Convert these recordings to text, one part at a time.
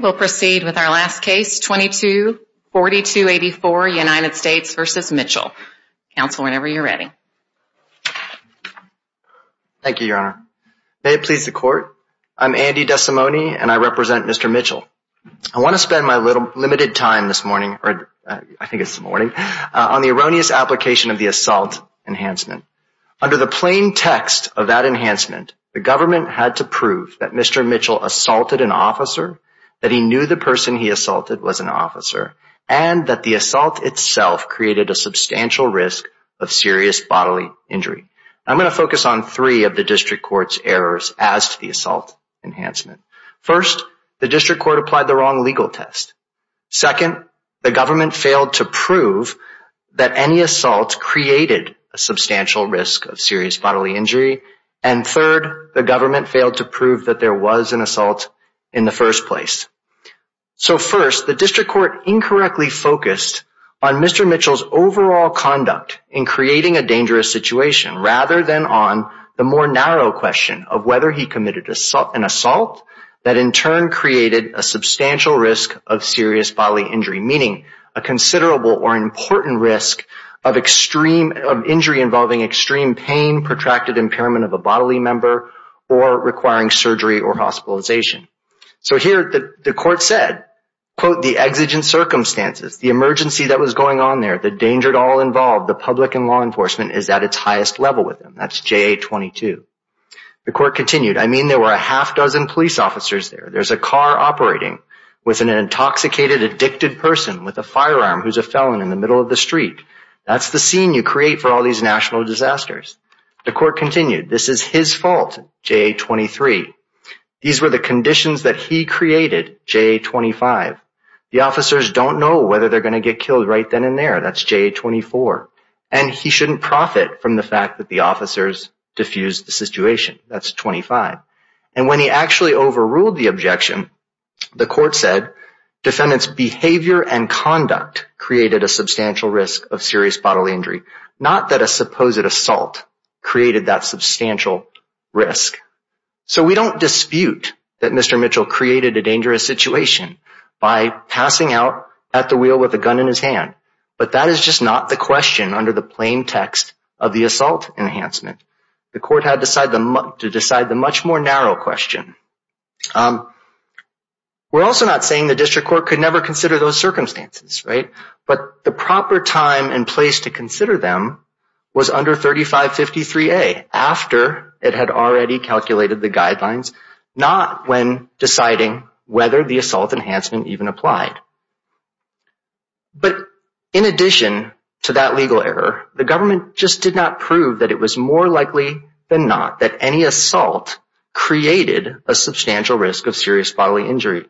May it please the Court, I am Andy Desimone and I represent Mr. Mitchell. I want to spend my limited time this morning on the erroneous application of the assault enhancement. Under the plain text of that enhancement, the government had to prove that Mr. Mitchell assaulted an inmate, that he knew the person he assaulted was an officer, and that the assault itself created a substantial risk of serious bodily injury. I am going to focus on three of the District Court's errors as to the assault enhancement. First, the District Court applied the wrong legal test. Second, the government failed to prove that any assault created a substantial risk of serious bodily injury. And third, the government failed to prove that there was an assault in the first place. So first, the District Court incorrectly focused on Mr. Mitchell's overall conduct in creating a dangerous situation, rather than on the more narrow question of whether he committed an assault that in turn created a substantial risk of serious bodily injury, meaning a considerable or important risk of injury involving extreme pain, protracted impairment of a bodily member, or requiring surgery or hospitalization. So here, the court said, quote, the exigent circumstances, the emergency that was going on there, the danger to all involved, the public and law enforcement is at its highest level with him. That's JA-22. The court continued, I mean there were a half dozen police officers there. There's a car operating with an intoxicated, addicted person with a firearm who's a felon in the middle of the street. That's the scene you create for all these national disasters. The court continued, this is his fault, JA-23. These were the conditions that he created, JA-25. The officers don't know whether they're going to get killed right then and there. That's JA-24. And he shouldn't profit from the fact that the officers diffused the situation. That's 25. And when he actually overruled the objection, the court said, defendant's behavior and conduct created a substantial risk of serious bodily injury. Not that a supposed assault created that substantial risk. So we don't dispute that Mr. Mitchell created a dangerous situation by passing out at the wheel with a gun in his hand. But that is just not the question under the plain text of the assault enhancement. The court had to decide the much more narrow question. We're also not saying the district court could never consider those circumstances, right? But the proper time and place to consider them was under 3553A, after it had already calculated the guidelines, not when deciding whether the assault enhancement even applied. But in addition to that legal error, the government just did not prove that it was more likely than not that any assault created a substantial risk of serious bodily injury.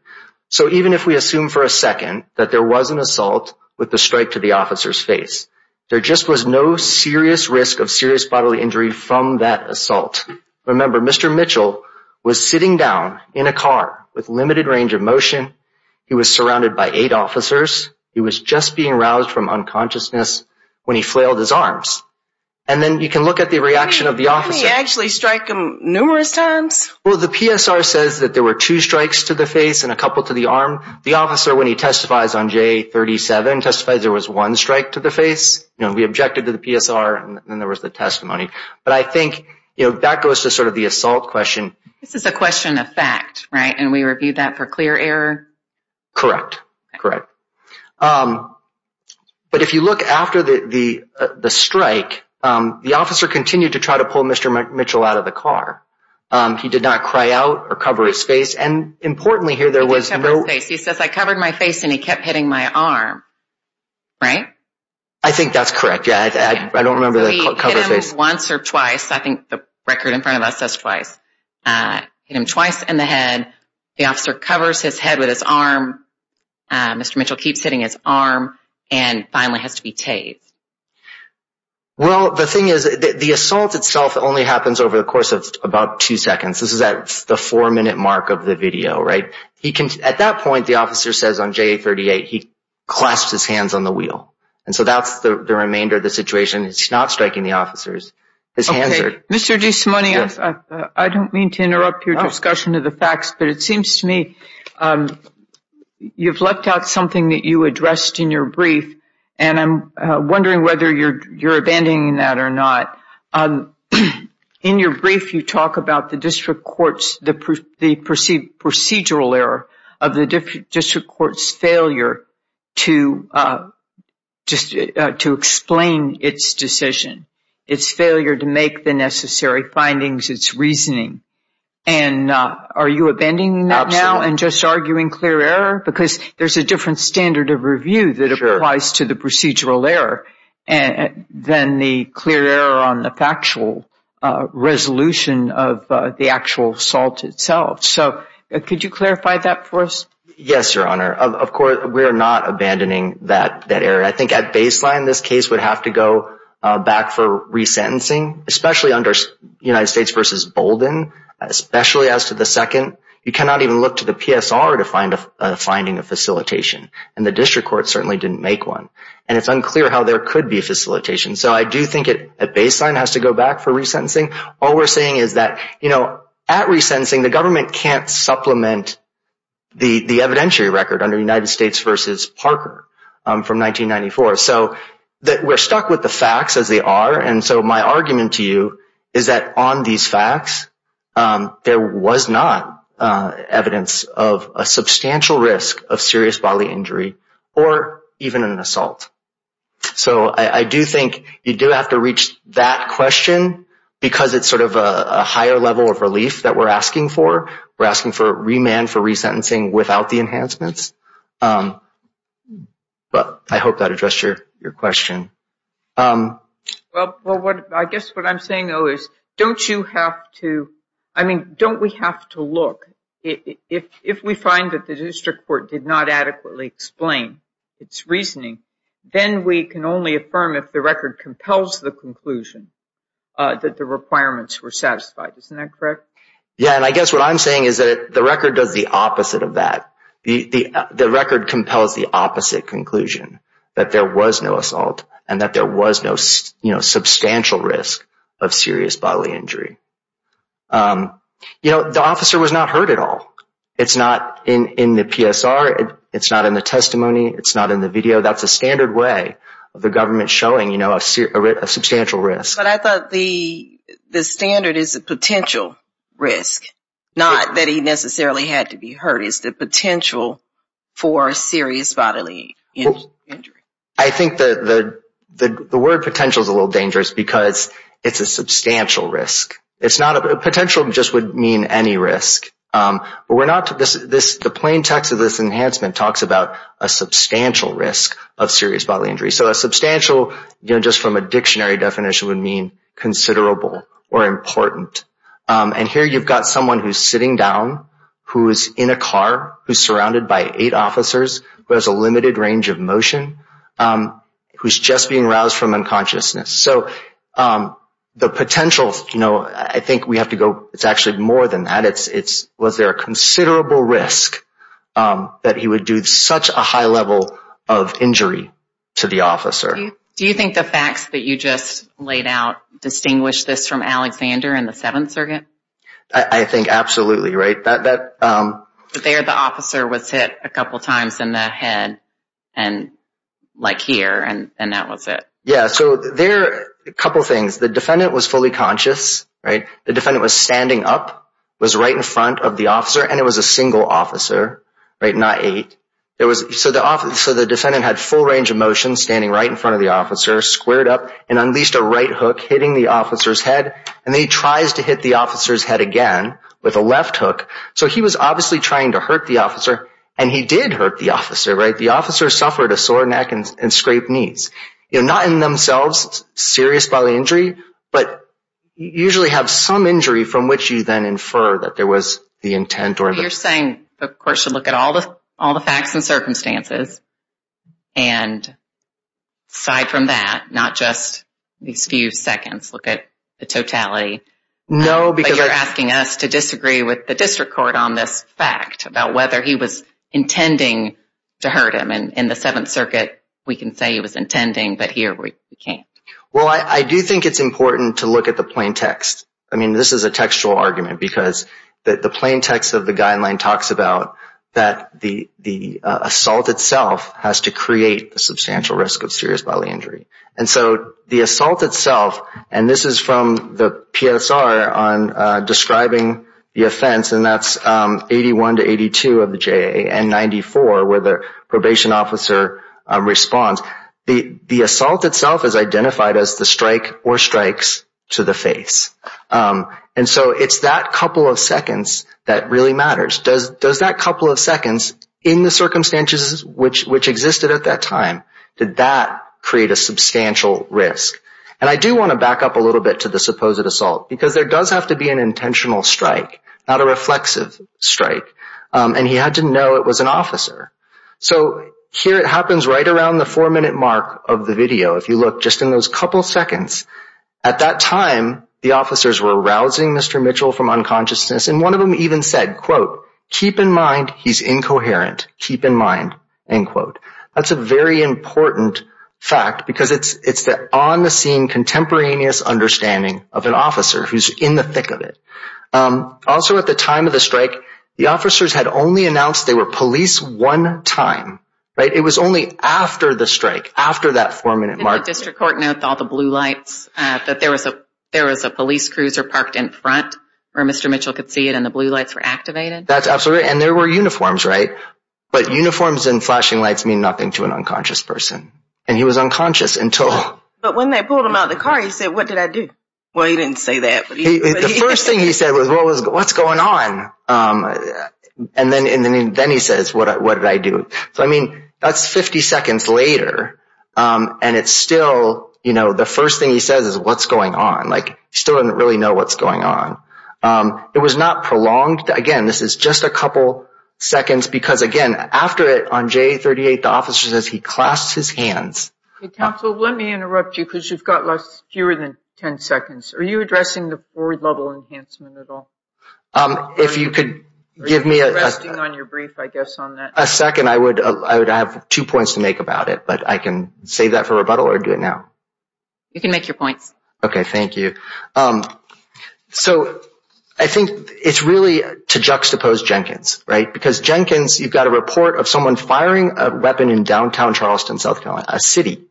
So even if we assume for a second that there was an assault with a strike to the officer's face, there just was no serious risk of serious bodily injury from that assault. Remember, Mr. Mitchell was sitting down in a car with limited range of motion. He was surrounded by eight officers. He was just being roused from unconsciousness when he flailed his arms. And then you can look at the reaction of the officer. He actually strike him numerous times? Well, the PSR says that there were two strikes to the face and a couple to the arm. The officer, when he testifies on J37, testifies there was one strike to the face. We objected to the PSR and there was the testimony. But I think that goes to sort of the assault question. This is a question of fact, right? And we reviewed that for clear error? Correct. Correct. But if you look after the strike, the officer continued to try to pull Mr. Mitchell out of the car. He did not cry out or cover his face. He did cover his face. He says, I covered my face and he kept hitting my arm. Right? I think that's correct. Yeah. I don't remember the cover face. He hit him once or twice. I think the record in front of us says twice. Hit him twice in the head. The officer covers his head with his arm. Mr. Mitchell keeps hitting his arm and finally has to be tased. Well the thing is, the assault itself only happens over the course of about two seconds. This is at the four minute mark of the video. At that point, the officer says on J38, he clasps his hands on the wheel. So that's the remainder of the situation. He's not striking the officers. Okay. Mr. DeSimone, I don't mean to interrupt your discussion of the facts, but it seems to me you've left out something that you addressed in your brief and I'm wondering whether you're abandoning that or not. In your brief, you talk about the procedural error of the district court's failure to explain its decision, its failure to make the necessary findings, its reasoning. Are you abandoning that now and just arguing clear error? Because there's a different standard of review that applies to the procedural error than the clear error on the factual resolution of the actual assault itself. So could you clarify that for us? Yes, Your Honor. Of course, we're not abandoning that error. I think at baseline, this case would have to go back for resentencing, especially under United States v. Bolden, especially as to the second. You cannot even look to the PSR to find a finding of facilitation. And the district court certainly didn't make one. And it's unclear how there could be a facilitation. So I do think at baseline it has to go back for resentencing. All we're saying is that at resentencing, the government can't supplement the evidentiary record under United States v. Parker from 1994. So we're stuck with the facts as they are. And so my argument to you is that on these facts, there was not evidence of a substantial risk of serious bodily injury or even an assault. So I do think you do have to reach that question because it's sort of a higher level of relief that we're asking for. We're asking for remand for resentencing without the enhancements. But I hope that addressed your question. Well, I guess what I'm saying, don't we have to look? If we find that the district court did not adequately explain its reasoning, then we can only affirm if the record compels the conclusion that the requirements were satisfied. Isn't that correct? Yeah. And I guess what I'm saying is that the record does the opposite of that. The record compels the opposite conclusion, that there was no assault and that there was no substantial risk of serious bodily injury. You know, the officer was not hurt at all. It's not in the PSR. It's not in the testimony. It's not in the video. That's a standard way of the government showing a substantial risk. But I thought the standard is a potential risk, not that he necessarily had to be hurt. It's the I think the word potential is a little dangerous because it's a substantial risk. It's not a potential just would mean any risk. But we're not to this. The plain text of this enhancement talks about a substantial risk of serious bodily injury. So a substantial, you know, just from a dictionary definition would mean considerable or important. And here you've got someone who's sitting down, who is in a car, who's surrounded by eight officers, who has a limited range of motion, who's just being roused from unconsciousness. So the potential, you know, I think we have to go. It's actually more than that. It's was there a considerable risk that he would do such a high level of injury to the officer? Do you think the facts that you just laid out distinguish this from that? There the officer was hit a couple of times in the head and like here and that was it. Yeah. So there are a couple of things. The defendant was fully conscious, right? The defendant was standing up, was right in front of the officer, and it was a single officer, right? Not eight. So the defendant had full range of motion standing right in front of the officer, squared up, and unleashed a right hook hitting the officer's head. And then he tries to hit the officer's head again with a left hook. So he was obviously trying to hurt the officer, and he did hurt the officer, right? The officer suffered a sore neck and scraped knees. You know, not in themselves serious by the injury, but you usually have some injury from which you then infer that there was the intent. You're saying the court should look at all the facts and circumstances and side from that, not just these few seconds, look at the totality. No, because you're asking us to disagree with the district court on this fact about whether he was intending to hurt him. And in the Seventh Circuit, we can say he was intending, but here we can't. Well, I do think it's important to look at the plain text. I mean, this is a textual argument because the plain text of the guideline talks about that the assault itself has to create the substantial risk of serious bodily injury. And so the assault itself, and this is from the PSR on describing the offense, and that's 81 to 82 of the JA and 94 where the probation officer responds. The assault itself is identified as the strike or strikes to the face. And so it's that couple of seconds that really matters. Does that couple of seconds in the circumstances which existed at that time, did that create a substantial risk? And I do want to back up a little bit to the supposed assault because there does have to be an intentional strike, not a reflexive strike. And he had to know it was an officer. So here it happens right around the four-minute mark of the video. If you look just in those couple seconds, at that time, the officers were rousing Mr. Mitchell from unconsciousness. And one of them even said, quote, keep in mind he's incoherent. Keep in mind, end quote. That's a very important fact because it's the on-the-scene contemporaneous understanding of an officer who's in the thick of it. Also at the time of the strike, the officers had only announced they were police one time, right? It was only after the strike, after that four-minute mark. Did the district court note all the blue lights, that there was a police cruiser parked in front where Mr. Mitchell could see it and the blue lights were activated? That's absolutely right. And there were uniforms, right? But uniforms and flashing lights mean nothing to an unconscious person. And he was unconscious until... But when they pulled him out of the car, he said, what did I do? Well, he didn't say that. The first thing he said was, what's going on? And then he says, what did I do? So, I mean, that's 50 seconds later. And it's still, you know, the first thing he says is, what's going on? Like, he still doesn't really know what's going on. It was not prolonged. Again, this is just a couple seconds because, again, after it, on J-38, the officer says he clasped his hands. Counsel, let me interrupt you because you've got less, fewer than 10 seconds. Are you addressing the forward level enhancement at all? If you could give me a... Are you resting on your brief, I guess, on that? A second. I would have two points to make about it, but I can save that for rebuttal or do it now? You can make your points. Okay, thank you. So, I think it's really to juxtapose Jenkins, right? Because Jenkins, you've got a report of someone firing a weapon in downtown Charleston, South Carolina, a city.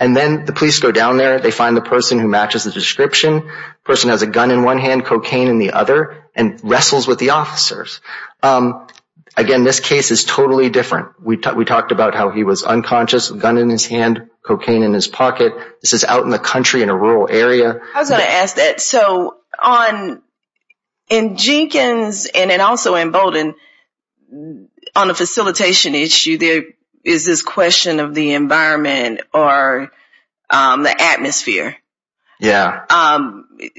And then the police go down there. They find the person who matches the description. The person has a gun in one hand, cocaine in the other, and wrestles with the officers. Again, this case is totally different. We talked about how he was unconscious, gun in his hand, cocaine in his pocket. This is out in the country in a rural area. I was going to ask that. So, in Jenkins and then also in Bolden, on a facilitation issue, there is this question of the environment or the atmosphere. Yeah.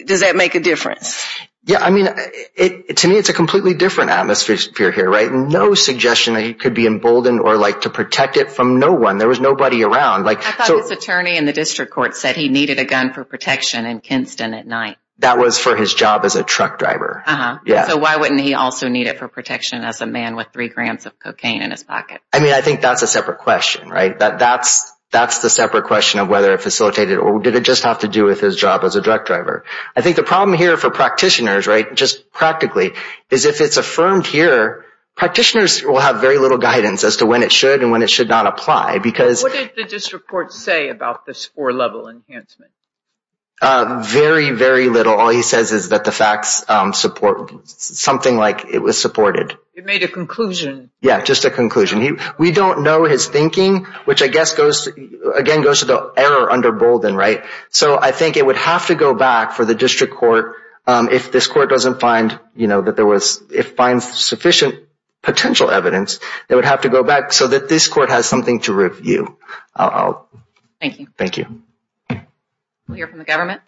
Does that make a difference? Yeah. I mean, to me, it's a completely different atmosphere here, right? No suggestion that he could be in Bolden or to protect it from no one. There was nobody around. I thought his attorney in the district court said he needed a gun for protection in Kinston at night. That was for his job as a truck driver. So, why wouldn't he also need it for protection as a man with three grams of cocaine in his pocket? I mean, I think that's a separate question, right? That's the separate question of whether it facilitated or did it just have to do with his job as a truck driver? I think the problem here for practitioners, right, just practically, is if it's affirmed here, practitioners will have very little guidance as to when it should and when it should not apply. What did the district court say about this four-level enhancement? Very, very little. All he says is that the facts support something like it was supported. It made a conclusion. Yeah, just a conclusion. We don't know his thinking, which, I guess, again, goes to the error under Bolden, right? So, I think it would have to go back for the district court if this court doesn't find, you know, if it finds sufficient potential evidence, it would have to go back so that this court has something to review. Thank you. Thank you. We'll hear from the government.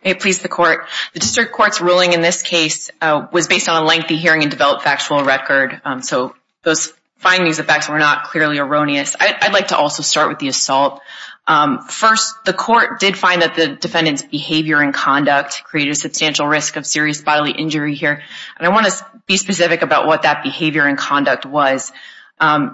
Hey, please, the court. The district court's ruling in this case was based on a lengthy hearing and developed factual record. So, those findings of facts were not clearly erroneous. I'd like to also start with the assault. First, the court did find that the defendant's behavior and conduct created a substantial risk of serious bodily injury here. And I want to be specific about what that behavior and conduct was.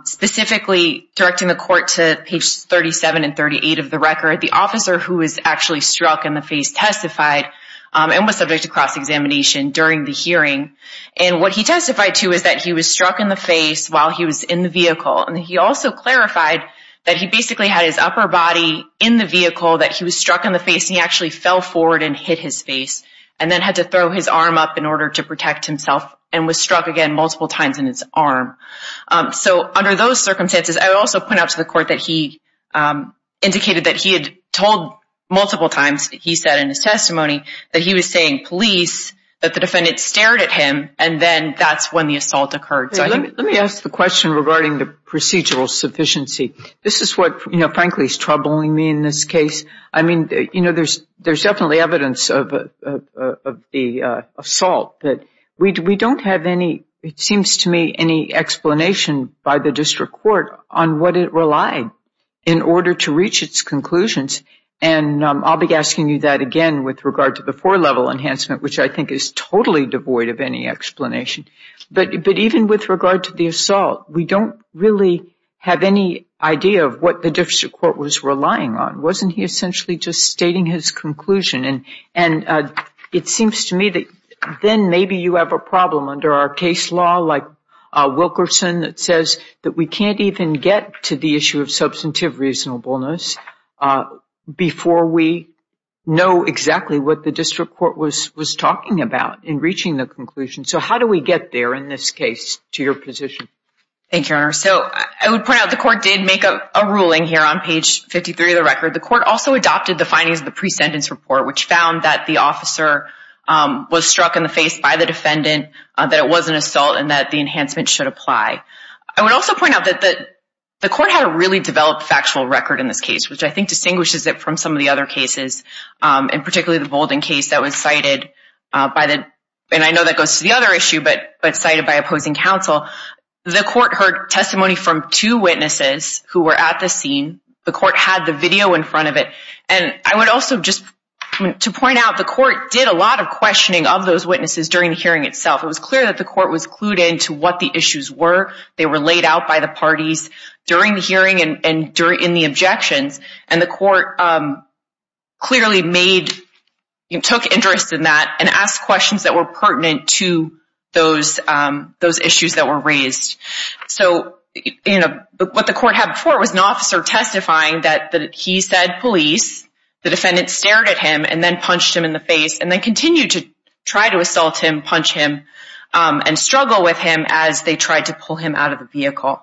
Specifically, directing the court to page 37 and 38 of the record, the officer who was actually struck in the face testified and was subject to cross-examination during the hearing. And what he testified to is that he was struck in the face while he was in the vehicle. And he also clarified that he basically had his upper body in the vehicle, that he was struck in the face, and he actually fell forward and hit his face and then had to throw his arm up in order to protect himself and was struck again indicated that he had told multiple times, he said in his testimony, that he was saying, please, that the defendant stared at him. And then that's when the assault occurred. So, let me ask the question regarding the procedural sufficiency. This is what, you know, frankly is troubling me in this case. I mean, you know, there's definitely evidence of the assault that we don't have any, it seems to me, any explanation by the district court on what it relied in order to reach its conclusions. And I'll be asking you that again with regard to the four-level enhancement, which I think is totally devoid of any explanation. But even with regard to the assault, we don't really have any idea of what the district court was relying on. Wasn't he essentially just stating his conclusion? And it seems to me that then maybe you have a problem under our case law like Wilkerson that says that we can't even get to the issue of substantive reasonableness before we know exactly what the district court was talking about in reaching the conclusion. So, how do we get there in this case to your position? Thank you, Your Honor. So, I would point out the court did make a ruling here on page 53 of the record. The court also adopted the findings of the pre-sentence report, which found that the officer was struck in the face by the defendant, that it was an assault, and that the enhancement should apply. I would also point out that the court had a really developed factual record in this case, which I think distinguishes it from some of the other cases, and particularly the Bolden case that was cited by the, and I know that goes to the other issue, but cited by opposing counsel. The court heard testimony from two witnesses who were at the scene. The court had the video in of those witnesses during the hearing itself. It was clear that the court was clued into what the issues were. They were laid out by the parties during the hearing and in the objections, and the court clearly took interest in that and asked questions that were pertinent to those issues that were raised. So, what the court had before was an officer testifying that he said police. The defendant stared at him and then punched him in the face and then continued to try to assault him, punch him, and struggle with him as they tried to pull him out of the vehicle.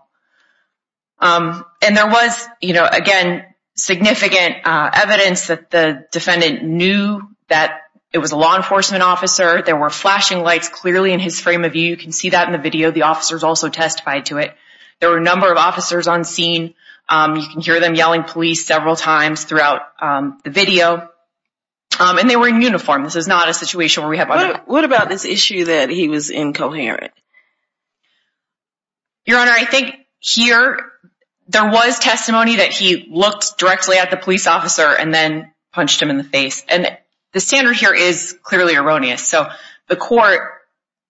And there was, you know, again, significant evidence that the defendant knew that it was a law enforcement officer. There were flashing lights clearly in his frame of view. You can see that in the video. The officers also testified to it. There were a number of officers on scene. You can hear them yelling police several times throughout the video, and they were in uniform. This is not a situation where we have... What about this issue that he was incoherent? Your Honor, I think here there was testimony that he looked directly at the police officer and then punched him in the face, and the standard here is clearly erroneous. So, the court,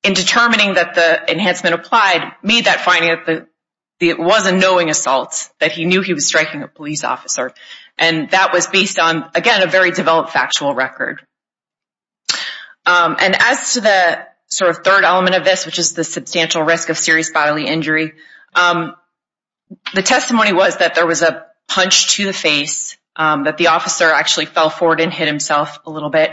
in determining that the enhancement applied, made that finding that it was a knowing assault, that he knew he was striking a police officer. And that was based on, again, a very developed factual record. And as to the sort of third element of this, which is the substantial risk of serious bodily injury, the testimony was that there was a punch to the face, that the officer actually fell forward and hit himself a little bit.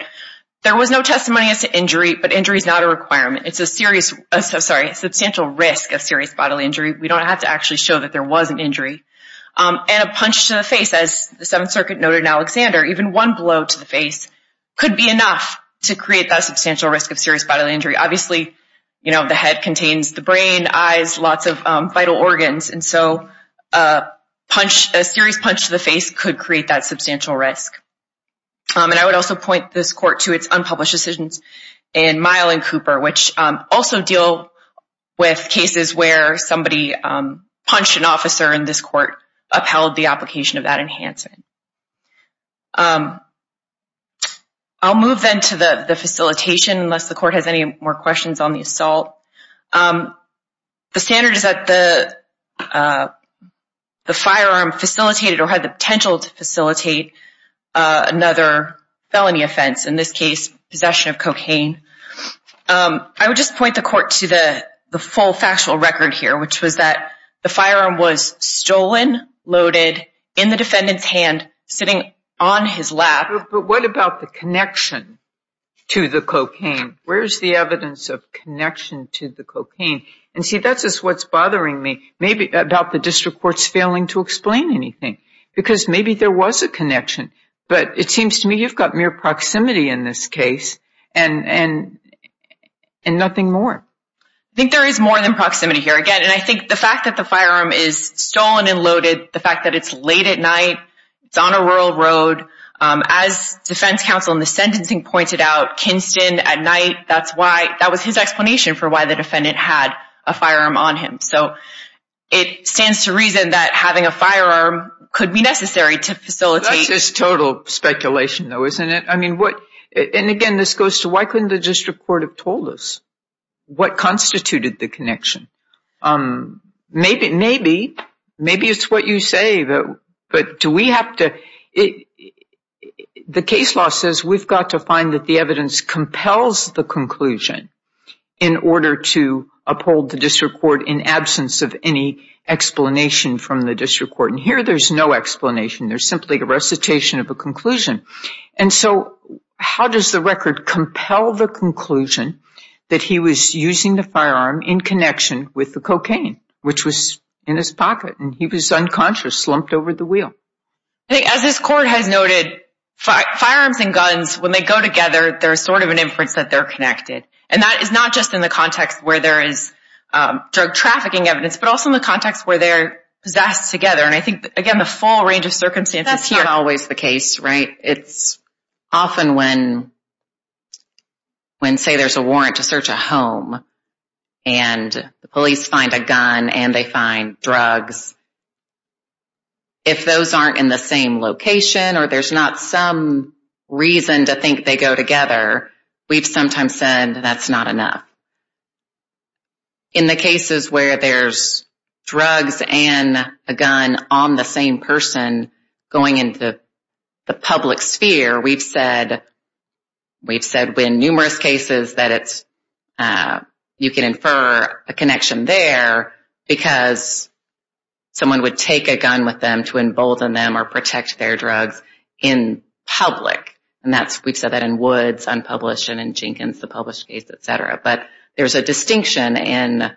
There was no testimony as to injury, but injury is not a requirement. It's a serious... Sorry, a substantial risk of serious bodily injury. We don't have to actually show that there was an injury. And a punch to the face, as the Seventh Circuit noted in Alexander, even one blow to the face could be enough to create that substantial risk of serious bodily injury. Obviously, the head contains the brain, eyes, lots of vital organs. And so, a serious punch to the face could create that substantial risk. And I would also point this court to its unpublished decisions in Mile and Cooper, which also deal with cases where somebody punched an officer, and this court upheld the application of that enhancement. I'll move then to the facilitation, unless the court has any more questions on the assault. The standard is that the another felony offense, in this case, possession of cocaine. I would just point the court to the full factual record here, which was that the firearm was stolen, loaded in the defendant's hand, sitting on his lap. But what about the connection to the cocaine? Where's the evidence of connection to the cocaine? And see, that's just what's bothering me, maybe about the district court's failing to explain anything, because maybe there was a connection. But it seems to me you've got mere proximity in this case, and nothing more. I think there is more than proximity here. Again, and I think the fact that the firearm is stolen and loaded, the fact that it's late at night, it's on a rural road, as defense counsel in the sentencing pointed out, Kinston at night, that was his explanation for why the defendant had a firearm on him. So, it stands to reason that having a firearm could be necessary to facilitate... That's just total speculation, though, isn't it? And again, this goes to why couldn't the district court have told us what constituted the connection? Maybe it's what you say, but do we have to... The case law says we've got to find that the evidence compels the conclusion in order to uphold the district court in absence of any explanation from the district court. And here there's no explanation. There's simply a recitation of a conclusion. And so, how does the record compel the conclusion that he was using the firearm in connection with the cocaine, which was in his pocket, and he was unconscious, slumped over the wheel? I think, as this court has noted, firearms and guns, when they go together, there's sort of an interconnected... And that is not just in the context where there is drug trafficking evidence, but also in the context where they're possessed together. And I think, again, the full range of circumstances here... That's not always the case, right? It's often when, say, there's a warrant to search a home and the police find a gun and they find drugs. If those aren't in the same location or there's not some reason to think they go together, we've sometimes said that's not enough. In the cases where there's drugs and a gun on the same person going into the public sphere, we've said in numerous cases that you can infer a connection there because someone would take a gun with them to embolden them or protect their drugs in public. And we've said that in Woods, unpublished, and in Jenkins, the published case, etc. But there's a distinction in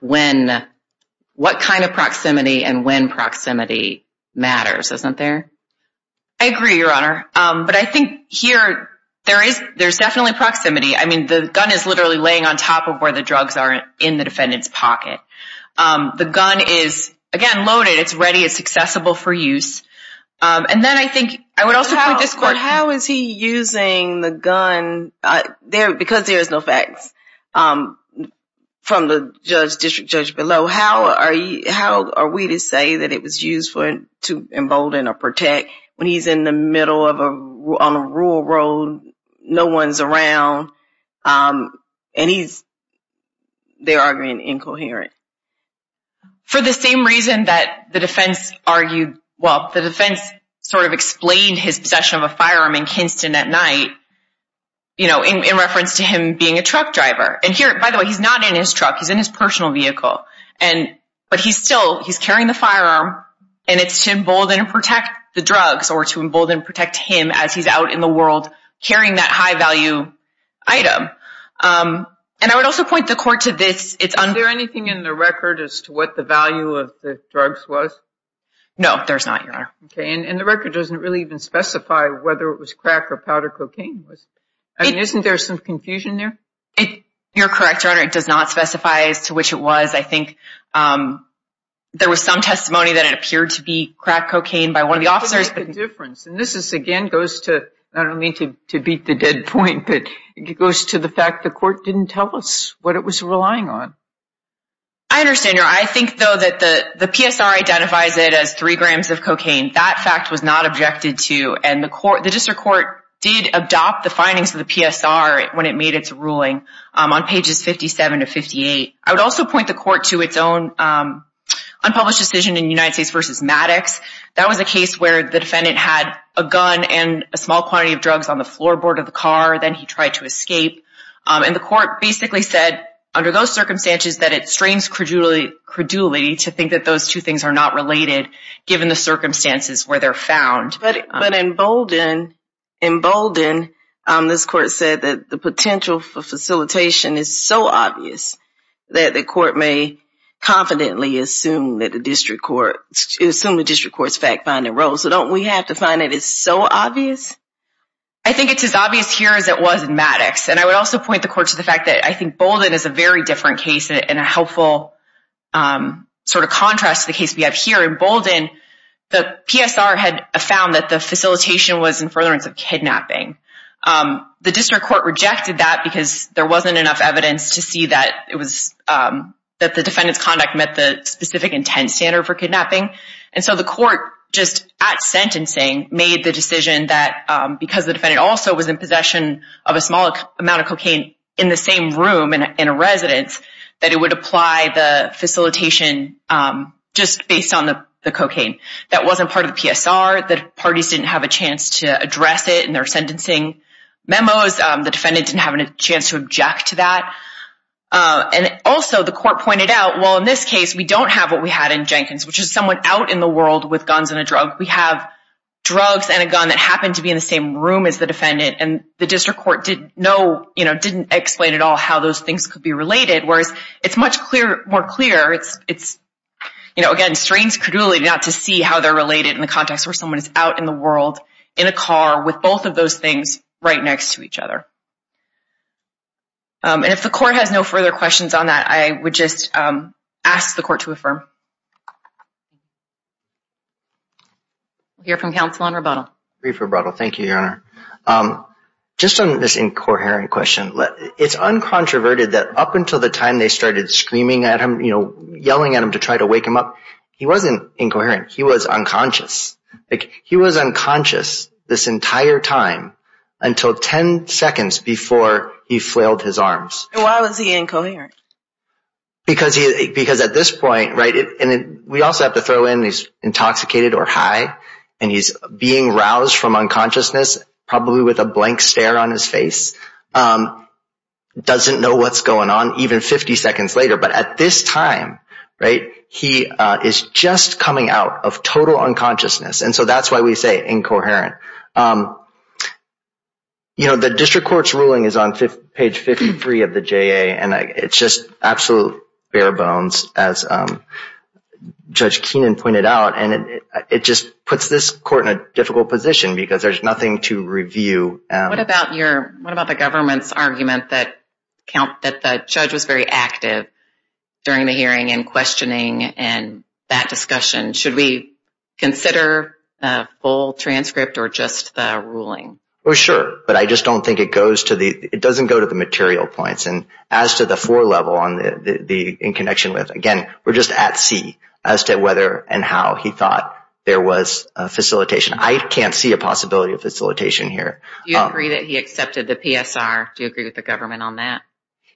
what kind of proximity and when proximity matters, isn't there? I agree, Your Honor. But I think here, there's definitely proximity. I mean, the gun is literally laying on top of where the drugs are in the defendant's pocket. The gun is, again, loaded. It's ready. It's accessible for use. And then I think I would also point to this court, how is he using the gun? Because there's no facts from the district judge below, how are we to say that it was used to embolden or protect when he's in the middle of a, on a rural road, no one's around, and they're arguing incoherent? For the same reason that the defense argued, well, the defense sort of explained his possession of a firearm in Kinston at night, you know, in reference to him being a truck driver. And here, by the way, he's not in his truck. He's in his personal vehicle. And, but he's still, he's carrying the firearm, and it's to embolden and protect the drugs or to embolden and protect him as he's out in the world carrying that high value item. And I would also point the court to this. Is there anything in the record as to what the value of the drugs was? No, there's not, Your Honor. Okay. And the record doesn't really even specify whether it was crack or powdered cocaine. I mean, isn't there some confusion there? You're correct, Your Honor. It does not specify as to which it was. I think there was some testimony that it appeared to be crack cocaine by one of the officers. What is the difference? And this is, again, goes to, I don't mean to beat the dead point, but it goes to the fact the court didn't tell us what it was relying on. I understand, Your Honor. I think, though, that the PSR identifies it as three grams of cocaine. That fact was not objected to. And the court, the district court did adopt the findings of the PSR when it made its ruling on pages 57 to 58. I would also point the court to its own unpublished decision in United States v. Maddox. That was a case where the defendant had a gun and a small quantity of drugs on the floorboard of the car. Then he tried to escape. And the court basically said, under those circumstances, that it strains credulity to think that those two things are not related, given the circumstances where they're found. But in Bolden, this court said that the potential for facilitation is so obvious that the court may confidently assume that the district court's fact-finding role. So don't we have to find it is so obvious? I think it's as obvious here as it was in Maddox. And I would also point the court to the fact that I think Bolden is a very different case and a helpful sort of contrast to the case we have here. In Bolden, the PSR had found that the facilitation was in furtherance of kidnapping. The district court rejected that because there wasn't enough evidence to see that the defendant's conduct met the specific intent standard for kidnapping. And so the court, just at sentencing, made the decision that because the defendant also was in possession of a small amount of cocaine in the same room in a residence, that it would apply the facilitation just based on the cocaine. That wasn't part of the PSR. The parties didn't have a chance to address it in their sentencing memos. The defendant didn't have a chance to object to that. And also, the court pointed out, well, in this case, we don't have what we had in Jenkins, which is someone out in the world with guns and a drug. We have drugs and a gun that happened to be in the same room as the defendant. And the district court didn't know, you know, didn't explain at all how those things could be related, whereas it's much more clear. It's, you know, again, strains credulity not to see how they're related in the context where someone is out in the world in a car with both of those things right next to each other. And if the court has no further questions on that, I would just ask the court to affirm. We'll hear from counsel on rebuttal. Brief rebuttal. Thank you, Your Honor. Just on this incoherent question, it's uncontroverted that up until the time they started screaming at him, you know, yelling at him to try to wake him up, he wasn't incoherent. He was unconscious. He was unconscious this entire time until 10 seconds before he flailed his arms. And why was he incoherent? Because at this point, right, and we also have to throw in he's intoxicated or high, and he's being roused from unconsciousness, probably with a blank stare on his face, doesn't know what's going on even 50 seconds later. But at this time, right, he is just coming out of total unconsciousness. And so that's why we say incoherent. You know, the district court's ruling is on page 53 of the J.A., and it's just absolute bare bones, as Judge Keenan pointed out. And it just puts this court in a difficult position because there's nothing to review. What about the government's argument that the judge was very active during the hearing and questioning and that discussion? Should we consider a full transcript or just the ruling? Well, sure, but I just don't think it goes to the, it doesn't go to the material points. And as to the four level in connection with, again, we're just at sea as to whether and how he thought there was a facilitation. I can't see a possibility of facilitation here. Do you agree that he accepted the PSR? Do you agree with the government on that?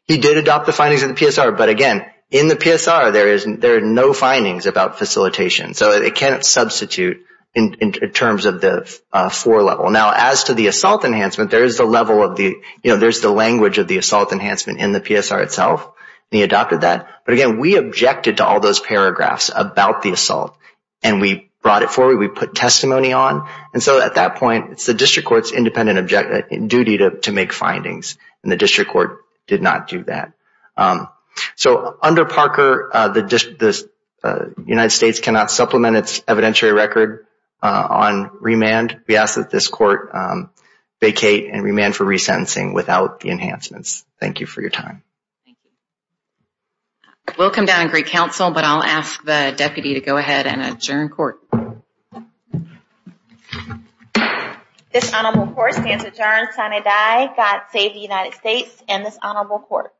He did adopt the findings of the PSR. But again, in the PSR, there are no findings about facilitation, so it can't substitute in terms of the four level. Now, as to the assault enhancement, there is the level of the, you know, there's the language of the assault enhancement in the PSR itself. He adopted that. But again, we objected to all those paragraphs about the assault, and we brought it forward. We put testimony on. And so at that point, it's the district court's duty to make findings, and the district court did not do that. So under Parker, the United States cannot supplement its evidentiary record on remand. We ask that this court vacate and remand for resentencing without the enhancements. Thank you for your time. We'll come down and greet counsel, but I'll ask the deputy to go ahead and adjourn court. Thank you. This honorable court stands adjourned sine die, God save the United States and this honorable court.